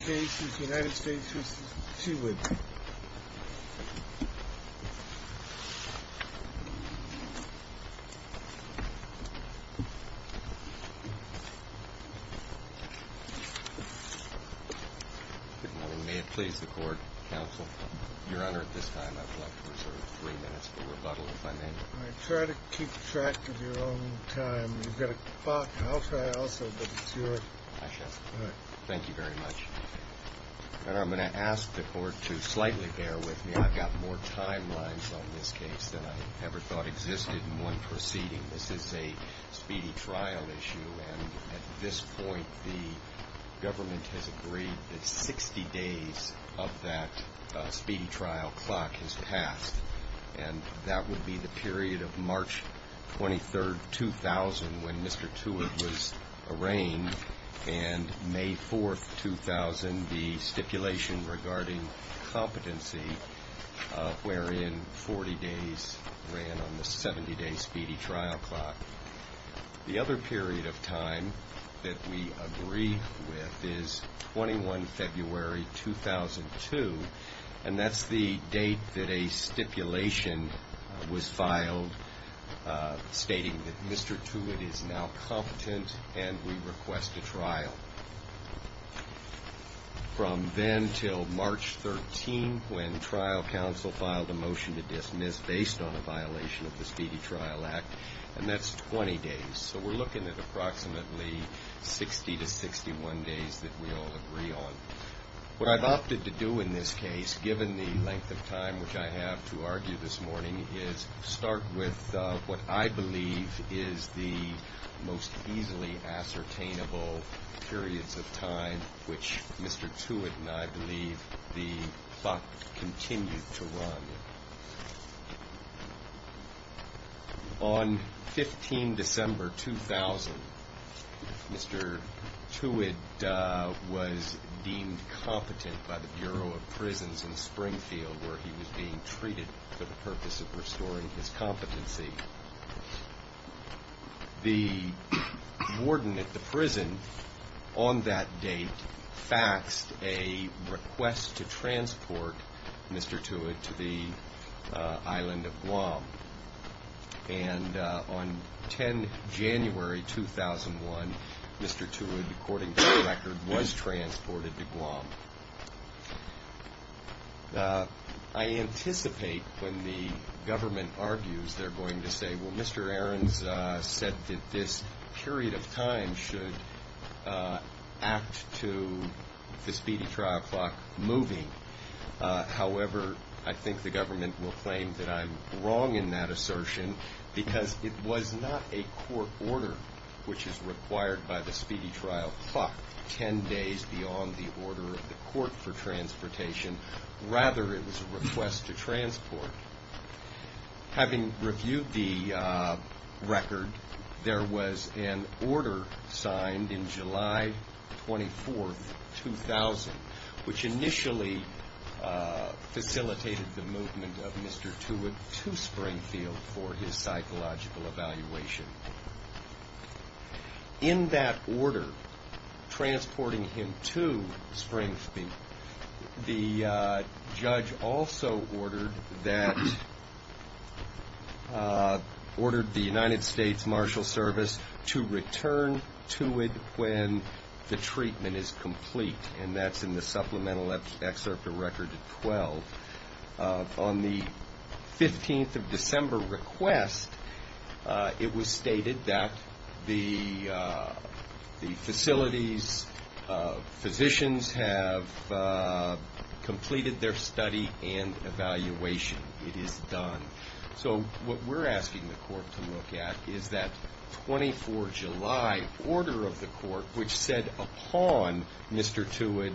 Good morning, may it please the Court, Counsel. Your Honor, at this time I would like to reserve three minutes for rebuttal, if I may. Try to keep track of your own time. You've got three minutes. And I'm going to ask the Court to slightly bear with me. I've got more timelines on this case than I ever thought existed in one proceeding. This is a speedy trial issue, and at this point the government has agreed that 60 days of that speedy trial clock has passed. And that would be the period of March 23, 2000, when Mr. Tewid was arraigned, and May 4, 2000, the stipulation regarding competency, wherein 40 days ran on the 70-day speedy trial clock. The other period of time that we agree with is 21 February, 2002, and that's the date that a stipulation was filed stating that Mr. Tewid is now competent and we request a trial. From then until March 13, when trial counsel filed a motion to dismiss based on a violation of the Speedy Trial Act, and that's 20 days. So we're looking at approximately 60 to 61 days that we all agree on. What I've opted to do in this case, given the length of time which I have to argue this morning, is start with what I believe is the most easily ascertainable period of time, and that would be the time which Mr. Tewid and I believe the clock continued to run. On 15 December, 2000, Mr. Tewid was deemed competent by the Bureau of Prisons in Springfield, where he was being treated for the purpose of restoring his competency. The warden at the prison on that day, Mr. Tewid, said, well, I'm not going to do this. I'm not going to do this. I'm not going to do this. I'm not going to do this. I'm not going to do this. And on 10 January, 2001, Mr. Tewid, according to the record, was transported to Guam. I anticipate when the government argues, they're going to say, well, Mr. Aarons said that this period of time is not going to affect the speedy trial clock moving. However, I think the government will claim that I'm wrong in that assertion, because it was not a court order which is required by the speedy trial clock 10 days beyond the order of the court for transportation. Rather, it was a request to transport. Having reviewed the record, I believe it was July 24, 2000, which initially facilitated the movement of Mr. Tewid to Springfield for his psychological evaluation. In that order, transporting him to Springfield, the judge also ordered the United States Marshal Service to return Tewid when the treatment is complete. And that's in the supplemental excerpt of record 12. On the 15th of December request, it was stated that the facilities, physicians have completed their study and that 24 July order of the court, which said upon Mr. Tewid,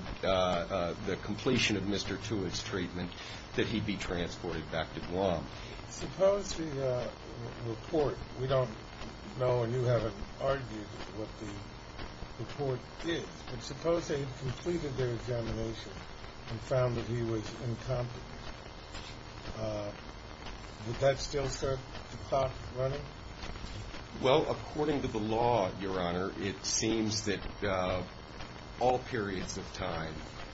the completion of Mr. Tewid's treatment, that he'd be transported back to Guam. Suppose the report, we don't know and you haven't argued what the report is, but suppose they completed their examination and found that he was incompetent. Would that still serve the clock running? Well, according to the law, Your Honor, it seems that all periods of time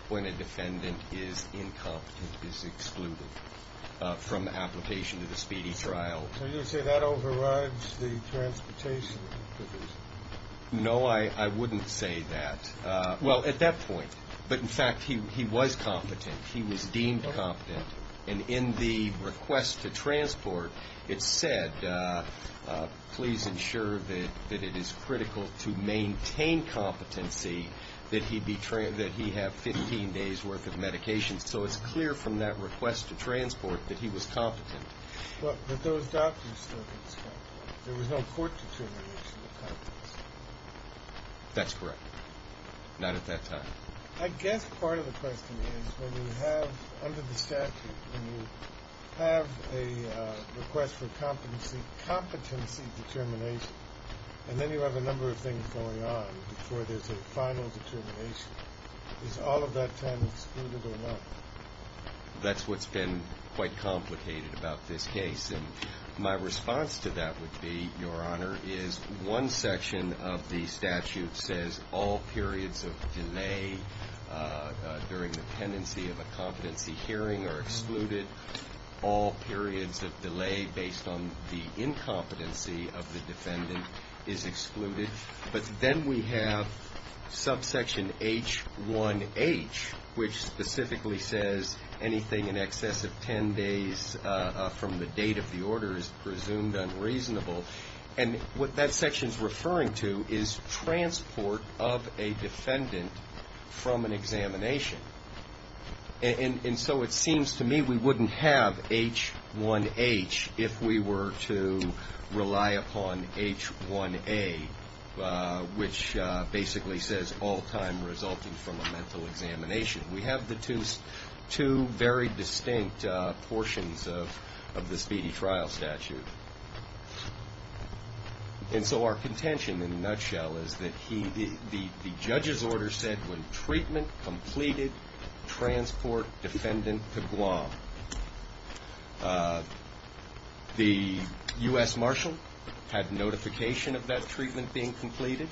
when a defendant is incompetent is excluded from the application to the speedy trial. So you say that overrides the transportation? No, I wouldn't say that. Well, at that point. But, in fact, he was competent. He was deemed competent. And in the request to transport, it said, please ensure that it is critical to maintain competency, that he have 15 days' worth of medication. So it's clear from that request to transport that he was competent. But those documents don't explain that. There was no court determination of competency. That's correct. Not at that time. I guess part of the question is, when you have, under the statute, when you have a request for competency, and you have a request to transport, and then you have a number of things going on before there's a final determination, is all of that time excluded or not? That's what's been quite complicated about this case. And my response to that would be, Your Honor, is one section of the statute says all periods of delay during the pendency of a competency hearing are excluded. All periods of delay based on the incompetency of the defendant is excluded. But then we have subsection H1H, which specifically says anything in excess of 10 days from the date of the order is presumed unreasonable. And what that section's referring to is transport of a defendant from an examination. And so it seems to me we wouldn't have H1H if we were to rely upon H1A, which basically says all time resulting from a mental examination. We have the two very distinct portions of the speedy trial statute. And so our contention, in a nutshell, is that the judge's order said when treatment completed, the defendant was exempted. The U.S. marshal had notification of that treatment being completed.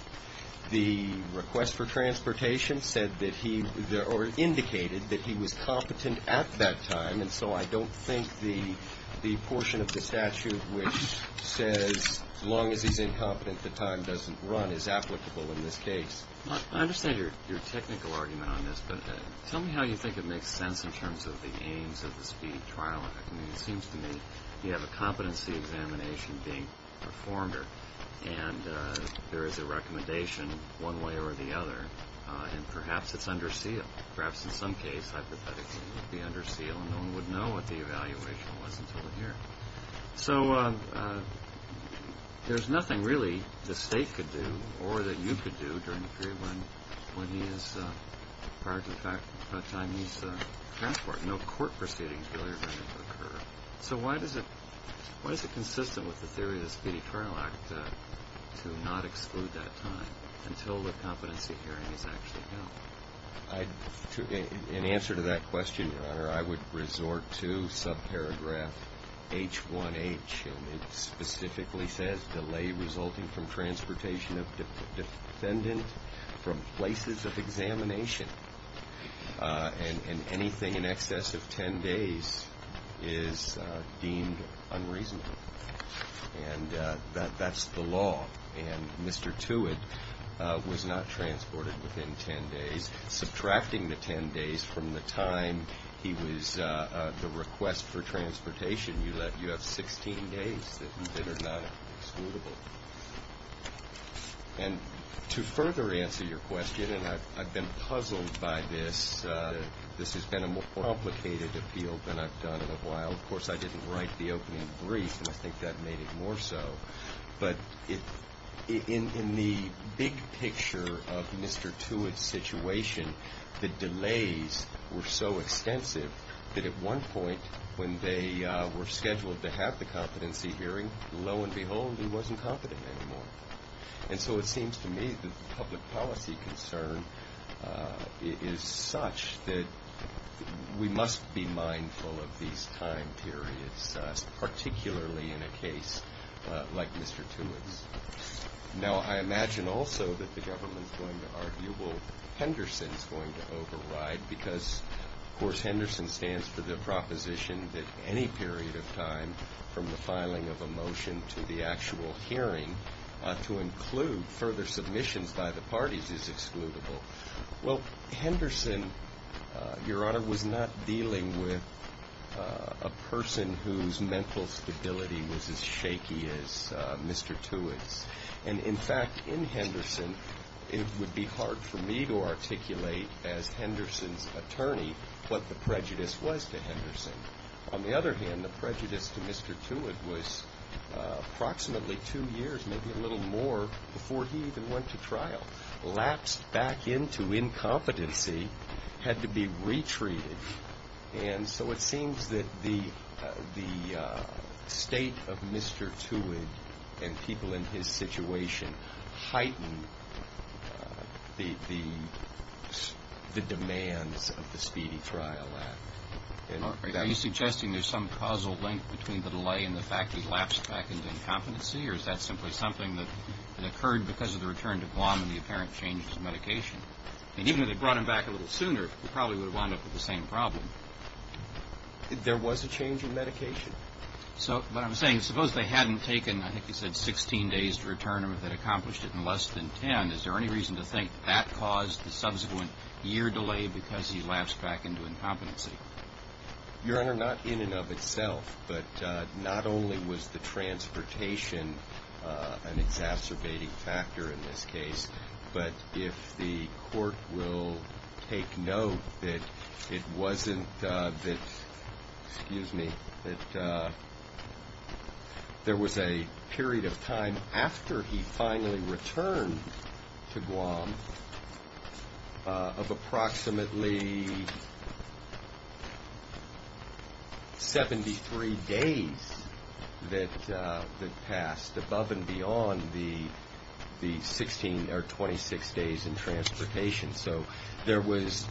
The request for transportation said that he or indicated that he was competent at that time. And so I don't think the portion of the statute which says as long as he's incompetent, the time doesn't run is applicable in this case. I understand your technical argument on this, but tell me how you think it makes sense in terms of the aims of the speedy trial act. I mean, it seems to me you have a competency examination being performed, and there is a recommendation one way or the other, and perhaps it's under seal. Perhaps in some case, hypothetically, it would be under seal, and no one would know what the evaluation was until the hearing. So there's nothing really the State could do or that you could do during the course of the trial. I don't agree when he is, prior to the time he's transported. No court proceedings really are going to occur. So why is it consistent with the theory of the speedy trial act to not exclude that time until the competency hearing is actually held? In answer to that question, Your Honor, I would resort to subparagraph H1H. It specifically says delay resulting from transportation of defendant from places of examination. And anything in excess of 10 days is deemed unreasonable. And that's the law. And Mr. Tewitt was not transported within 10 days, subtracting the 10 days from the time he was, the request for transportation. You have 16 days that are not excludable. And to further answer your question, and I've been puzzled by this. This has been a more complicated appeal than I've done in a while. Of course, I didn't write the opening brief, and I think that made it more so. But in the big picture of Mr. Tewitt's situation, the delays were so extensive that at one point, when they were scheduled to have the competency hearing, lo and behold, he wasn't competent anymore. And so it seems to me that the public policy concern is such that we must be mindful of these time periods, particularly in a case like Mr. Tewitt's. Now, I imagine also that the government's going to argue, well, Henderson's going to override, because, of course, Henderson stands for the proposition that any period of time, from the filing of a motion to the actual hearing, to include further submissions by the parties is excludable. Well, Henderson, Your Honor, was not dealing with a person whose mental stability was as shaky as Mr. Tewitt's. And, in fact, in Henderson, it would be hard for me to articulate, as Henderson's attorney, what the prejudice was to Henderson. On the other hand, the prejudice to Mr. Tewitt was approximately two years, maybe a little more, before he even went to trial. Lapsed back into incompetency, had to be retreated. And so it seems that the state of Mr. Tewitt and people in his situation heightened the demands of the Speedy Trial Act. Are you suggesting there's some causal link between the delay and the fact he lapsed back into incompetency, or is that simply something that occurred because of the return to Guam and the apparent change in medication? And even if they'd brought him back a little sooner, he probably would have wound up with the same problem. There was a change in medication. So, what I'm saying is, suppose they hadn't taken, I think you said, 16 days to return him, that accomplished it in less than 10. Is there any reason to think that caused the subsequent year delay because he lapsed back into incompetency? Your Honor, not in and of itself, but not only was the transportation an exacerbating factor in this case, but if the court will take note that it wasn't that, excuse me, that there was a period of time after he finally returned to Guam of approximately 73 days that passed above and beyond the 16 or 26 days in transportation. So, there was,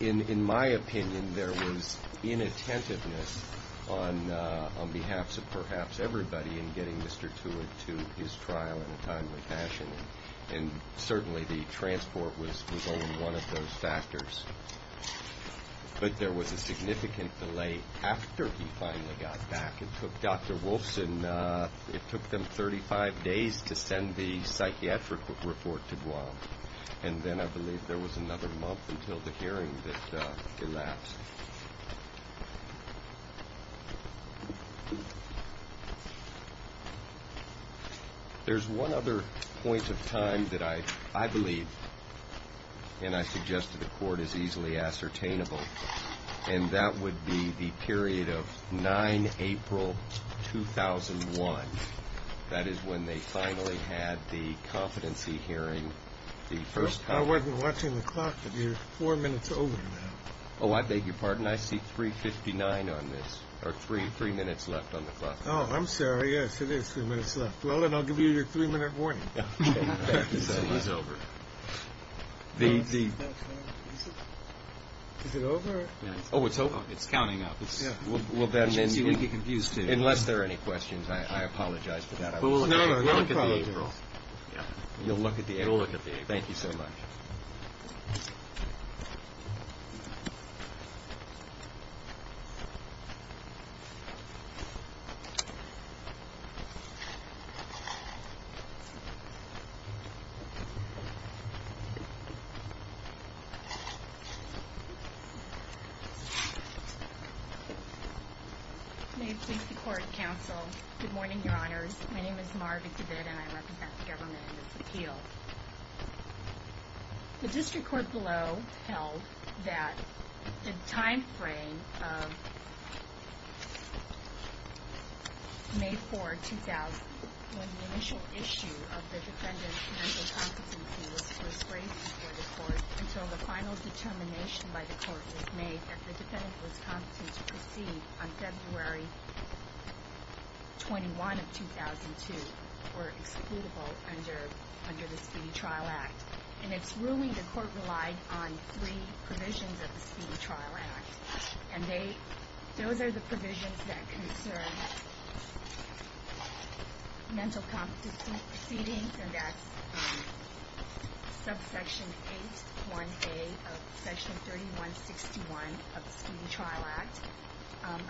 in my opinion, there was inattentiveness on behalf of perhaps everybody in getting Mr. Tewitt to his trial in a timely fashion, and certainly the transport was only one of those factors. But there was a significant delay after he finally got back. It took Dr. Wolfson, it took them 35 days to send the psychiatric report to Guam, and then I believe there was another month until the hearing that collapsed. There's one other point of time that I believe, and I suggest to the court, is easily ascertainable, and that would be the period of 9 April 2001. That is when they finally had the competency hearing. I wasn't watching the clock. You're four minutes over now. Oh, I beg your pardon. I see 3.59 on this, or three minutes left on the clock. Oh, I'm sorry. Yes, it is three minutes left. Well, then I'll give you your three-minute warning. It's over. Unless there are any questions, I apologize for that. You'll look at the April. Thank you so much. District Court Counsel, good morning, Your Honors. My name is Mara Vick-DeVitt, and I represent the government in this appeal. The district court below held that the time frame of May 4, 2001, the initial issue of the defendant's mental competency was first raised before the court until the final determination by the court was made that the defendant was competent to proceed on February 21, 2002, or excludable under the Speedy Trial Act. And it's ruling the court relied on three provisions of the Speedy Trial Act, and those are the provisions that concern mental competency proceedings, and that's subsection 8.1a of section 3161 of the Speedy Trial Act,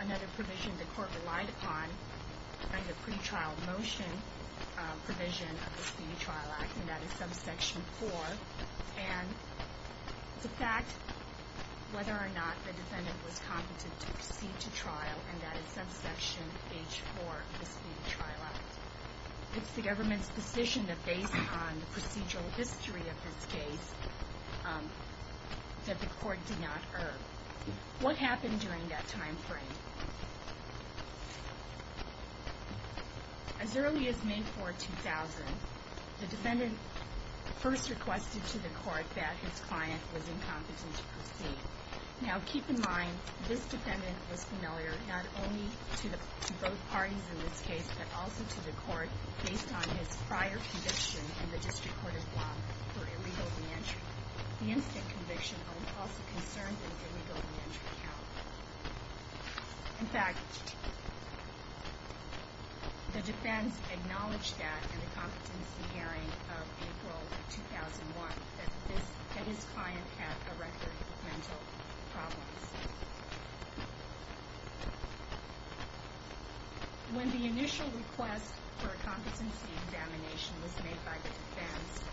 another provision the court relied upon under pretrial motion provision of the Speedy Trial Act, and that is subsection 4. And the fact whether or not the defendant was competent to proceed to trial, and that is subsection H4 of the Speedy Trial Act. It's the government's decision that based on the procedural history of this case that the court did not err. What happened during that time frame? As early as May 4, 2000, the defendant first requested to the court that his client was incompetent to proceed. Now, keep in mind, this defendant was familiar not only to both parties in this case, but also to the court based on his prior conviction in the District Court of Law for illegal reentry. The instant conviction also concerned an illegal reentry count. In fact, the defense acknowledged that in the competency hearing of April 2001, that his client had a record of mental problems. When the initial request for a competency examination was made by the defense,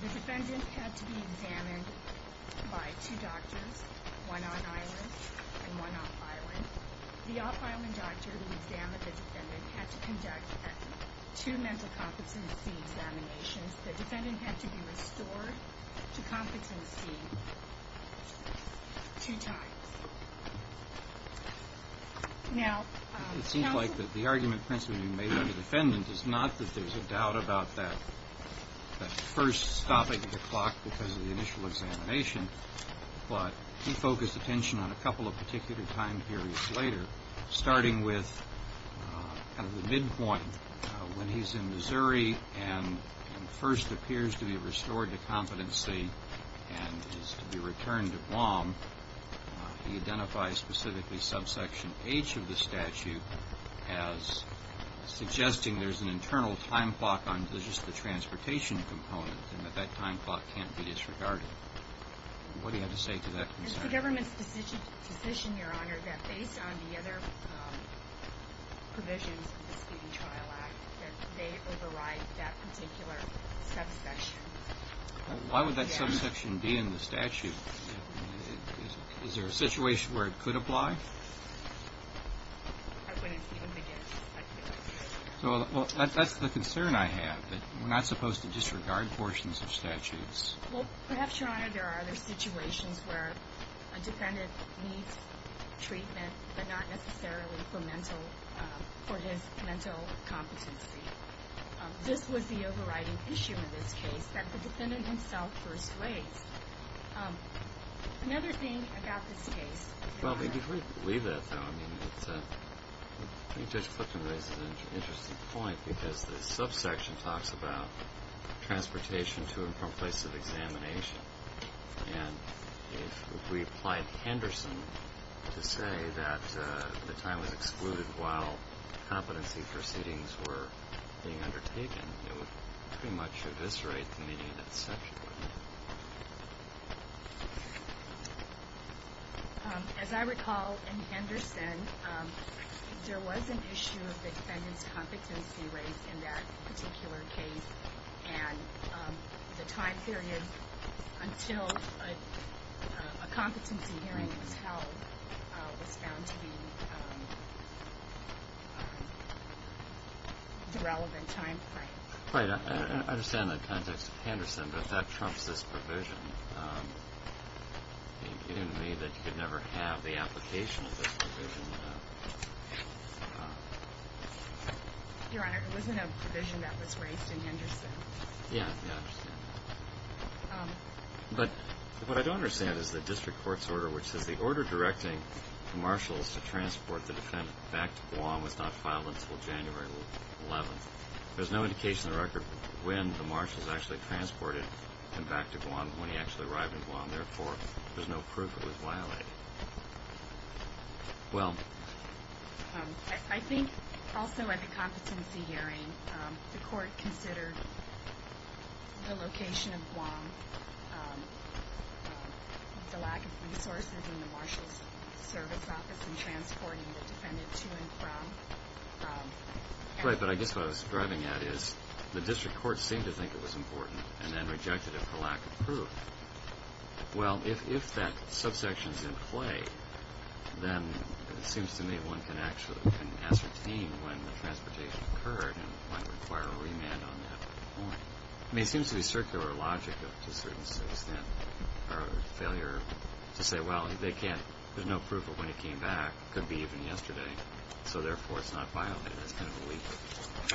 the defendant had to be examined by two doctors, one on-island and one off-island. The off-island doctor who examined the defendant had to conduct two mental competency examinations. The defendant had to be restored to competency two times. It seems like the argument principally made by the defendant is not that there's a doubt about that first stopping of the clock because of the initial examination, but he focused attention on a couple of particular time periods later, starting with kind of the midpoint when he's in Missouri and first appears to be restored to competency and is to be returned to Guam. He identifies specifically subsection H of the statute as suggesting there's an internal time clock on just the transportation component and that that time clock can't be disregarded. What do you have to say to that concern? It's the government's decision, Your Honor, that based on the other provisions of the speeding trial act that they override that particular subsection. Why would that subsection be in the statute? Is there a situation where it could apply? I wouldn't even begin to speculate. Well, that's the concern I have, that we're not supposed to disregard portions of statutes. Well, perhaps, Your Honor, there are other situations where a defendant needs treatment but not necessarily for his mental competency. This would be overriding issue in this case that the defendant himself persuades. Another thing about this case, Your Honor. Well, before you leave that, though, I think Judge Clifton raises an interesting point because the subsection talks about transportation to and from places of examination and if we applied Henderson to say that the time was excluded while competency proceedings were being undertaken, it would pretty much eviscerate the meaning of that subsection, wouldn't it? As I recall in Henderson, there was an issue of the defendant's competency rates in that particular case and the time period until a competency hearing was held was found to be the relevant time frame. Right. I understand the context of Henderson, but that trumps this provision. You didn't mean that you could never have the application of this provision. Your Honor, it wasn't a provision that was raised in Henderson. But what I don't understand is the district court's order which says the order directing marshals to transport the defendant back to Guam was not filed until January 11th. There's no indication in the record when the marshals actually transported him back to Guam when he actually arrived in Guam. Therefore, there's no proof it was violated. I think also at the competency hearing, the court considered the location of Guam, the lack of resources in the marshal's service office in transporting the defendant to and from. Right. But I guess what I was striving at is the district court seemed to think it was important and then rejected it for lack of proof. Well, if that subsection is in play, then it seems to me one can actually ascertain when the transportation occurred and might require a remand on that point. I mean, it seems to be circular logic to a certain extent, or failure to say, well, there's no proof of when he came back. It could be even yesterday. So therefore, it's not violated. That's kind of a leap of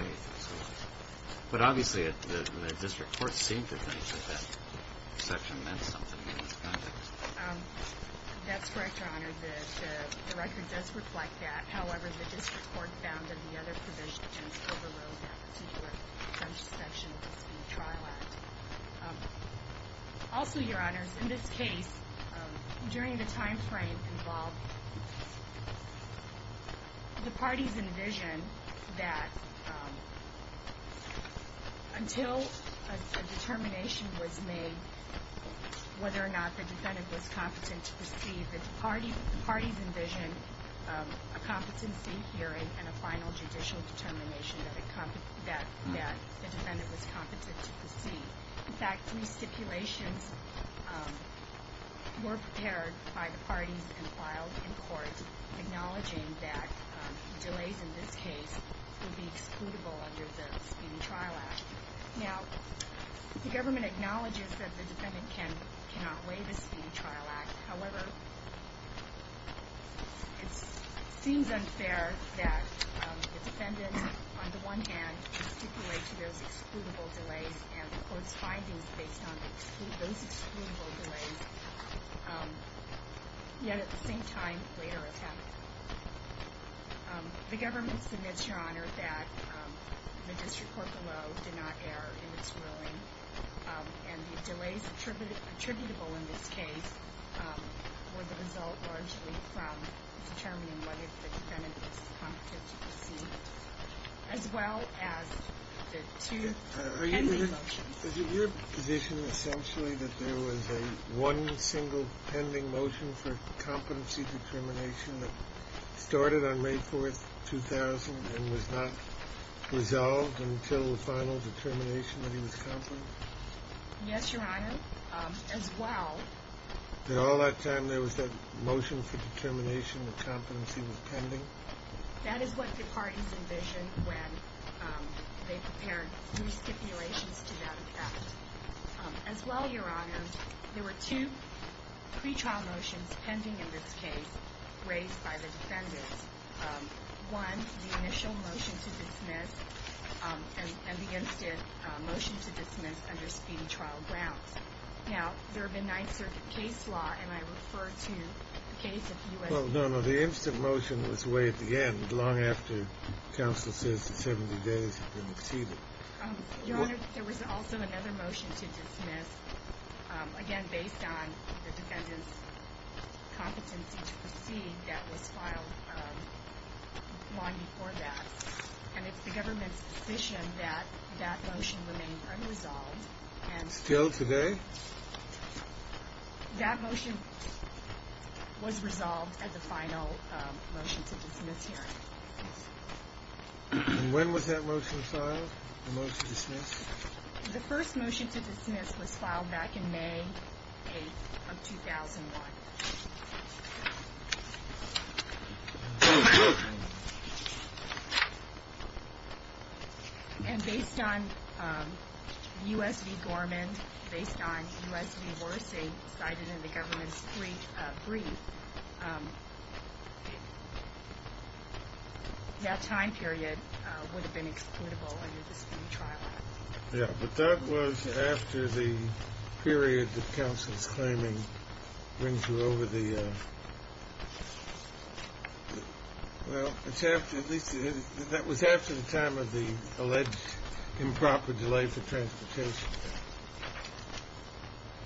faith. But obviously, the district court seemed to think that that subsection meant something in this context. That's correct, Your Honor. The record does reflect that. However, the district court found that the other provisions overrode that particular subsection. Also, Your Honor, in this case, during the timeframe involved, the parties envisioned that until a determination was made whether or not the defendant was competent to proceed, the parties envisioned a competency hearing and a final judicial determination that the defendant was competent to proceed. In fact, three stipulations were prepared by the parties and filed in court, acknowledging that delays in this case would be excludable under the Speedy Trial Act. Now, the government acknowledges that the defendant cannot waive the Speedy Trial Act. However, it seems unfair that the defendant under the Speedy Trial Act would, on the one hand, stipulate to those excludable delays and the court's findings based on those excludable delays, yet at the same time, later attempt. The government submits, Your Honor, that the district court below did not err in its ruling, and the delays attributable in this case were the result largely from determining whether the defendant was competent to proceed, as well as the two pending motions. Is it your position, essentially, that there was a one single pending motion for competency determination that started on May 4, 2000 and was not resolved until the final determination that he was competent? Yes, Your Honor, as well. Did all that time, there was that motion for determination that competency was pending? That is what the parties envisioned when they prepared three stipulations to that effect. As well, Your Honor, there were two pretrial motions pending in this case raised by the defendants. One, the initial motion to dismiss, and the instant motion to dismiss under Speedy Trial grounds. Now, there have been Ninth Circuit case law, and I refer to the case of U.S. Well, no, no, the instant motion was waived again long after counsel says the 70 days had been exceeded. Your Honor, there was also another motion to dismiss, again, based on the defendant's competency to proceed that was filed long before that, and it's the government's position that that motion remained unresolved. Still today? That motion was resolved at the final motion to dismiss hearing. And when was that motion filed, the motion to dismiss? The first motion to dismiss was filed back in May 8 of 2001. And based on U.S. v. Gorman, based on U.S. v. Horacy cited in the government's brief, that time period would have been excludable under the Speedy Trial Act. Yeah, but that was after the period that counsel's claiming brings you over the well, that was after the time of the alleged improper delay for transportation.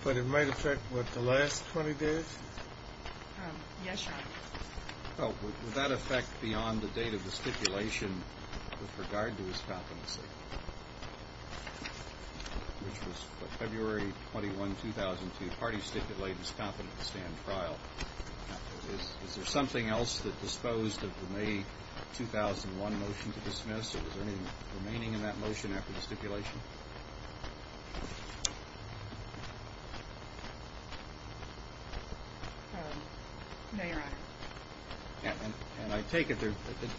But it might affect what, the last 20 days? Yes, Your Honor. Well, would that affect beyond the date of the stipulation with regard to his competency? Which was February 21, 2002, parties stipulated his competency to stand trial. Is there something else that disposed of the May 2001 motion to dismiss, or was there anything remaining in that motion after the stipulation? No, Your Honor. And I take it,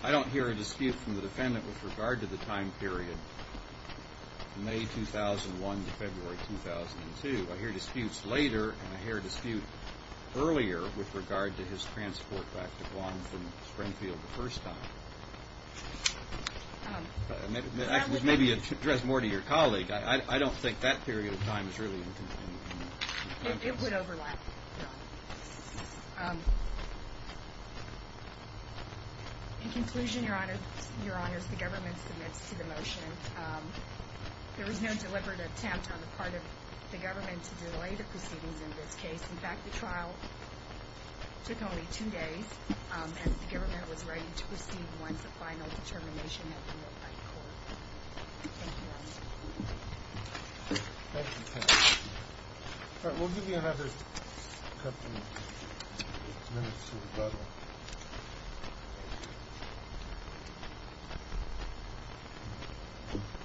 I don't hear a dispute from the defendant with regard to the time period from May 2001 to February 2002. I hear disputes later, and I hear a dispute earlier with regard to his transport back to Guam from Springfield the first time. Maybe you should address more to your colleague. I don't think that period of time is really in the context. It would overlap. In conclusion, Your Honors, the government submits to the motion. There was no deliberate attempt on the part of the government to delay the proceedings in this case. In fact, the trial took only two days, and the government was ready to proceed once the final determination had been made by the court. Thank you, Your Honor. All right, we'll give you another couple minutes to rebuttal.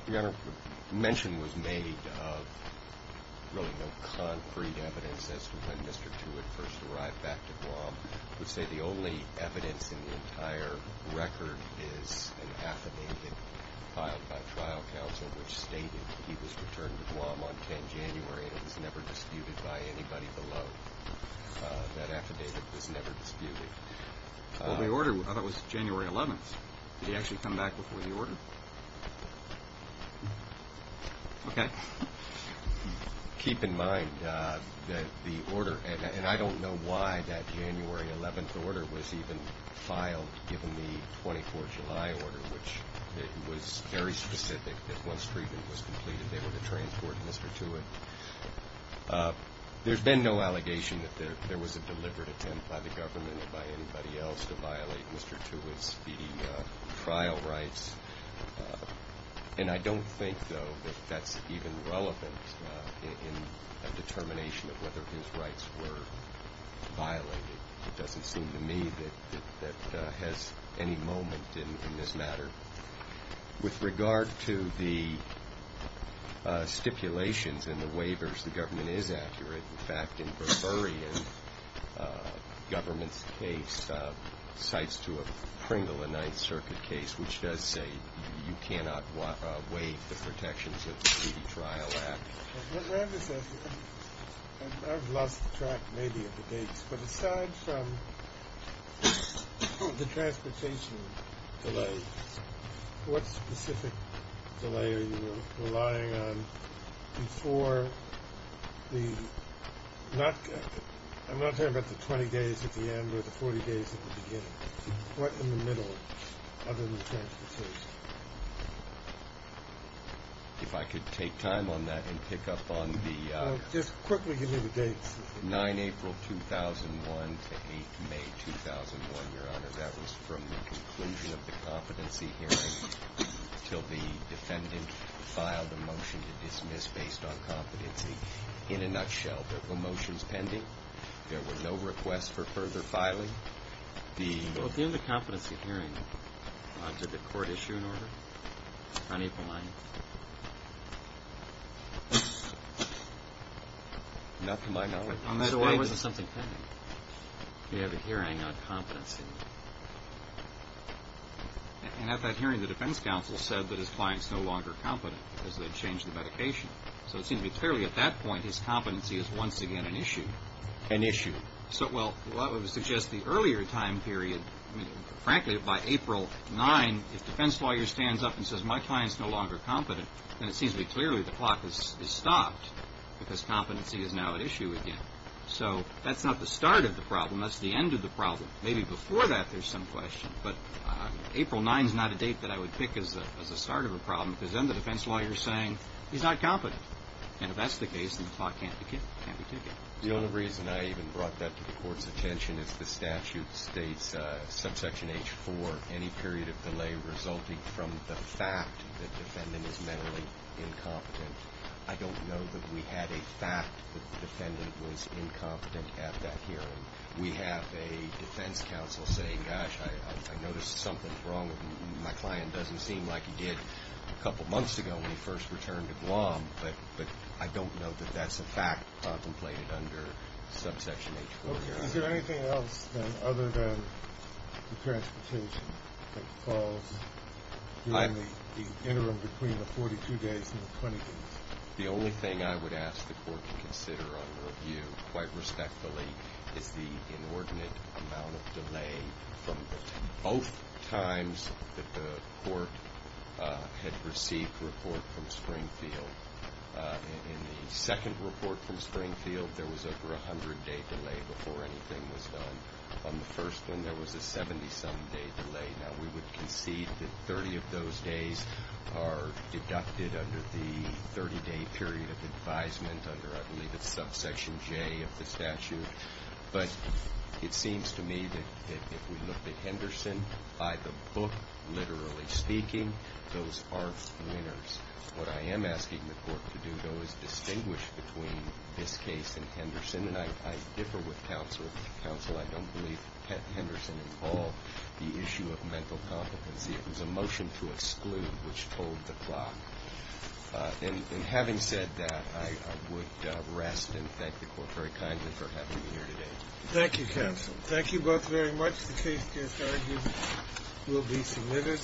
Your Honor, mention was made of really no concrete evidence as to when Mr. Tewitt first arrived back to Guam. I would say the only evidence in the entire record is an affidavit filed by trial counsel which stated he was returned to Guam on 10 January, and it was never disputed by anybody below. That affidavit was never disputed. Well, the order, I thought it was January 11th. Did he actually come back before the order? Okay. Keep in mind that the order, and I don't know why that January 11th order was even filed given the 24th of July order, which was very specific, that once treatment was completed they were to transport Mr. Tewitt. There's been no allegation that there was a deliberate attempt by the government or by anybody else to violate Mr. Tewitt's trial rights, and I don't think, though, that that's even relevant in a determination of whether his rights were violated. It doesn't seem to me that Mr. Tewitt has any moment in this matter. With regard to the stipulations and the waivers, the government is accurate. In fact, in Burberry, the government's case cites to a Pringle, a Ninth Circuit case, which does say you cannot waive the protections of the Treaty Trial Act. I've lost track maybe of the dates, but aside from the transportation delay, what specific delay are you relying on before the, I'm not talking about the 20 days at the end or the 40 days at the beginning. What in the middle other than transportation? If I could take time on that and pick up on the... Just quickly give me the dates. 9 April 2001 to 8 May 2001, Your Honor. That was from the conclusion of the competency hearing until the defendant filed a motion to dismiss based on competency. In a nutshell, there were motions pending. There were no requests for further filing. Well, at the end of the competency hearing, did the court issue an order on April 9th? Not to my knowledge. So why wasn't something pending? We have a hearing on competency. And at that hearing, the defense counsel said that his client is no longer competent because they changed the medication. So it seems to me clearly at that point, his competency is once again an issue. An issue. Well, that would suggest the earlier time period. Frankly, by April 9, if defense lawyer stands up and says, my client's no longer competent, then it seems to me clearly the clock has stopped because competency is now at issue again. So that's not the start of the problem. That's the end of the problem. Maybe before that, there's some question. But April 9 is not a date that I would pick as a start of a problem because then the defense lawyer is saying he's not competent. And if that's the case, then the clock can't be ticked. The only reason I even brought that to the court's attention is the statute states subsection H-4, any period of delay resulting from the fact that the defendant is mentally incompetent. I don't know that we had a fact that the defendant was incompetent at that hearing. We have a defense counsel saying, gosh, I noticed something's wrong with him. My client doesn't seem like he did a couple months ago when he first returned to Guam. But I don't know that that's a fact contemplated under subsection H-4. Is there anything else other than the transportation that falls during the interim between the 42 days and the 20 days? The only thing I would ask the court to consider on review, quite respectfully, is the inordinate amount of delay from both times that the court had received a report from Springfield. In the second report from Springfield, there was over a 100-day delay before anything was done. On the first one, there was a 70-some day delay. Now, we would concede that 30 of those days are deducted under the 30-day period of advisement, under I believe it's subsection J of the statute. But it seems to me that if we looked at Henderson by the book, literally speaking, those aren't winners. What I am asking the court to do, though, is distinguish between this case and Henderson. And I differ with counsel. I don't believe Henderson involved the issue of mental competency. It was a motion to exclude which told the plot. And having said that, I would rest and thank the court very kindly for having me here today. Thank you, counsel. Thank you both very much. The case gets argued, will be submitted.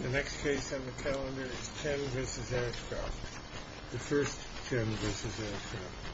The next case on the calendar is Chen v. Ashcroft, the first Chen v. Ashcroft. Thank you.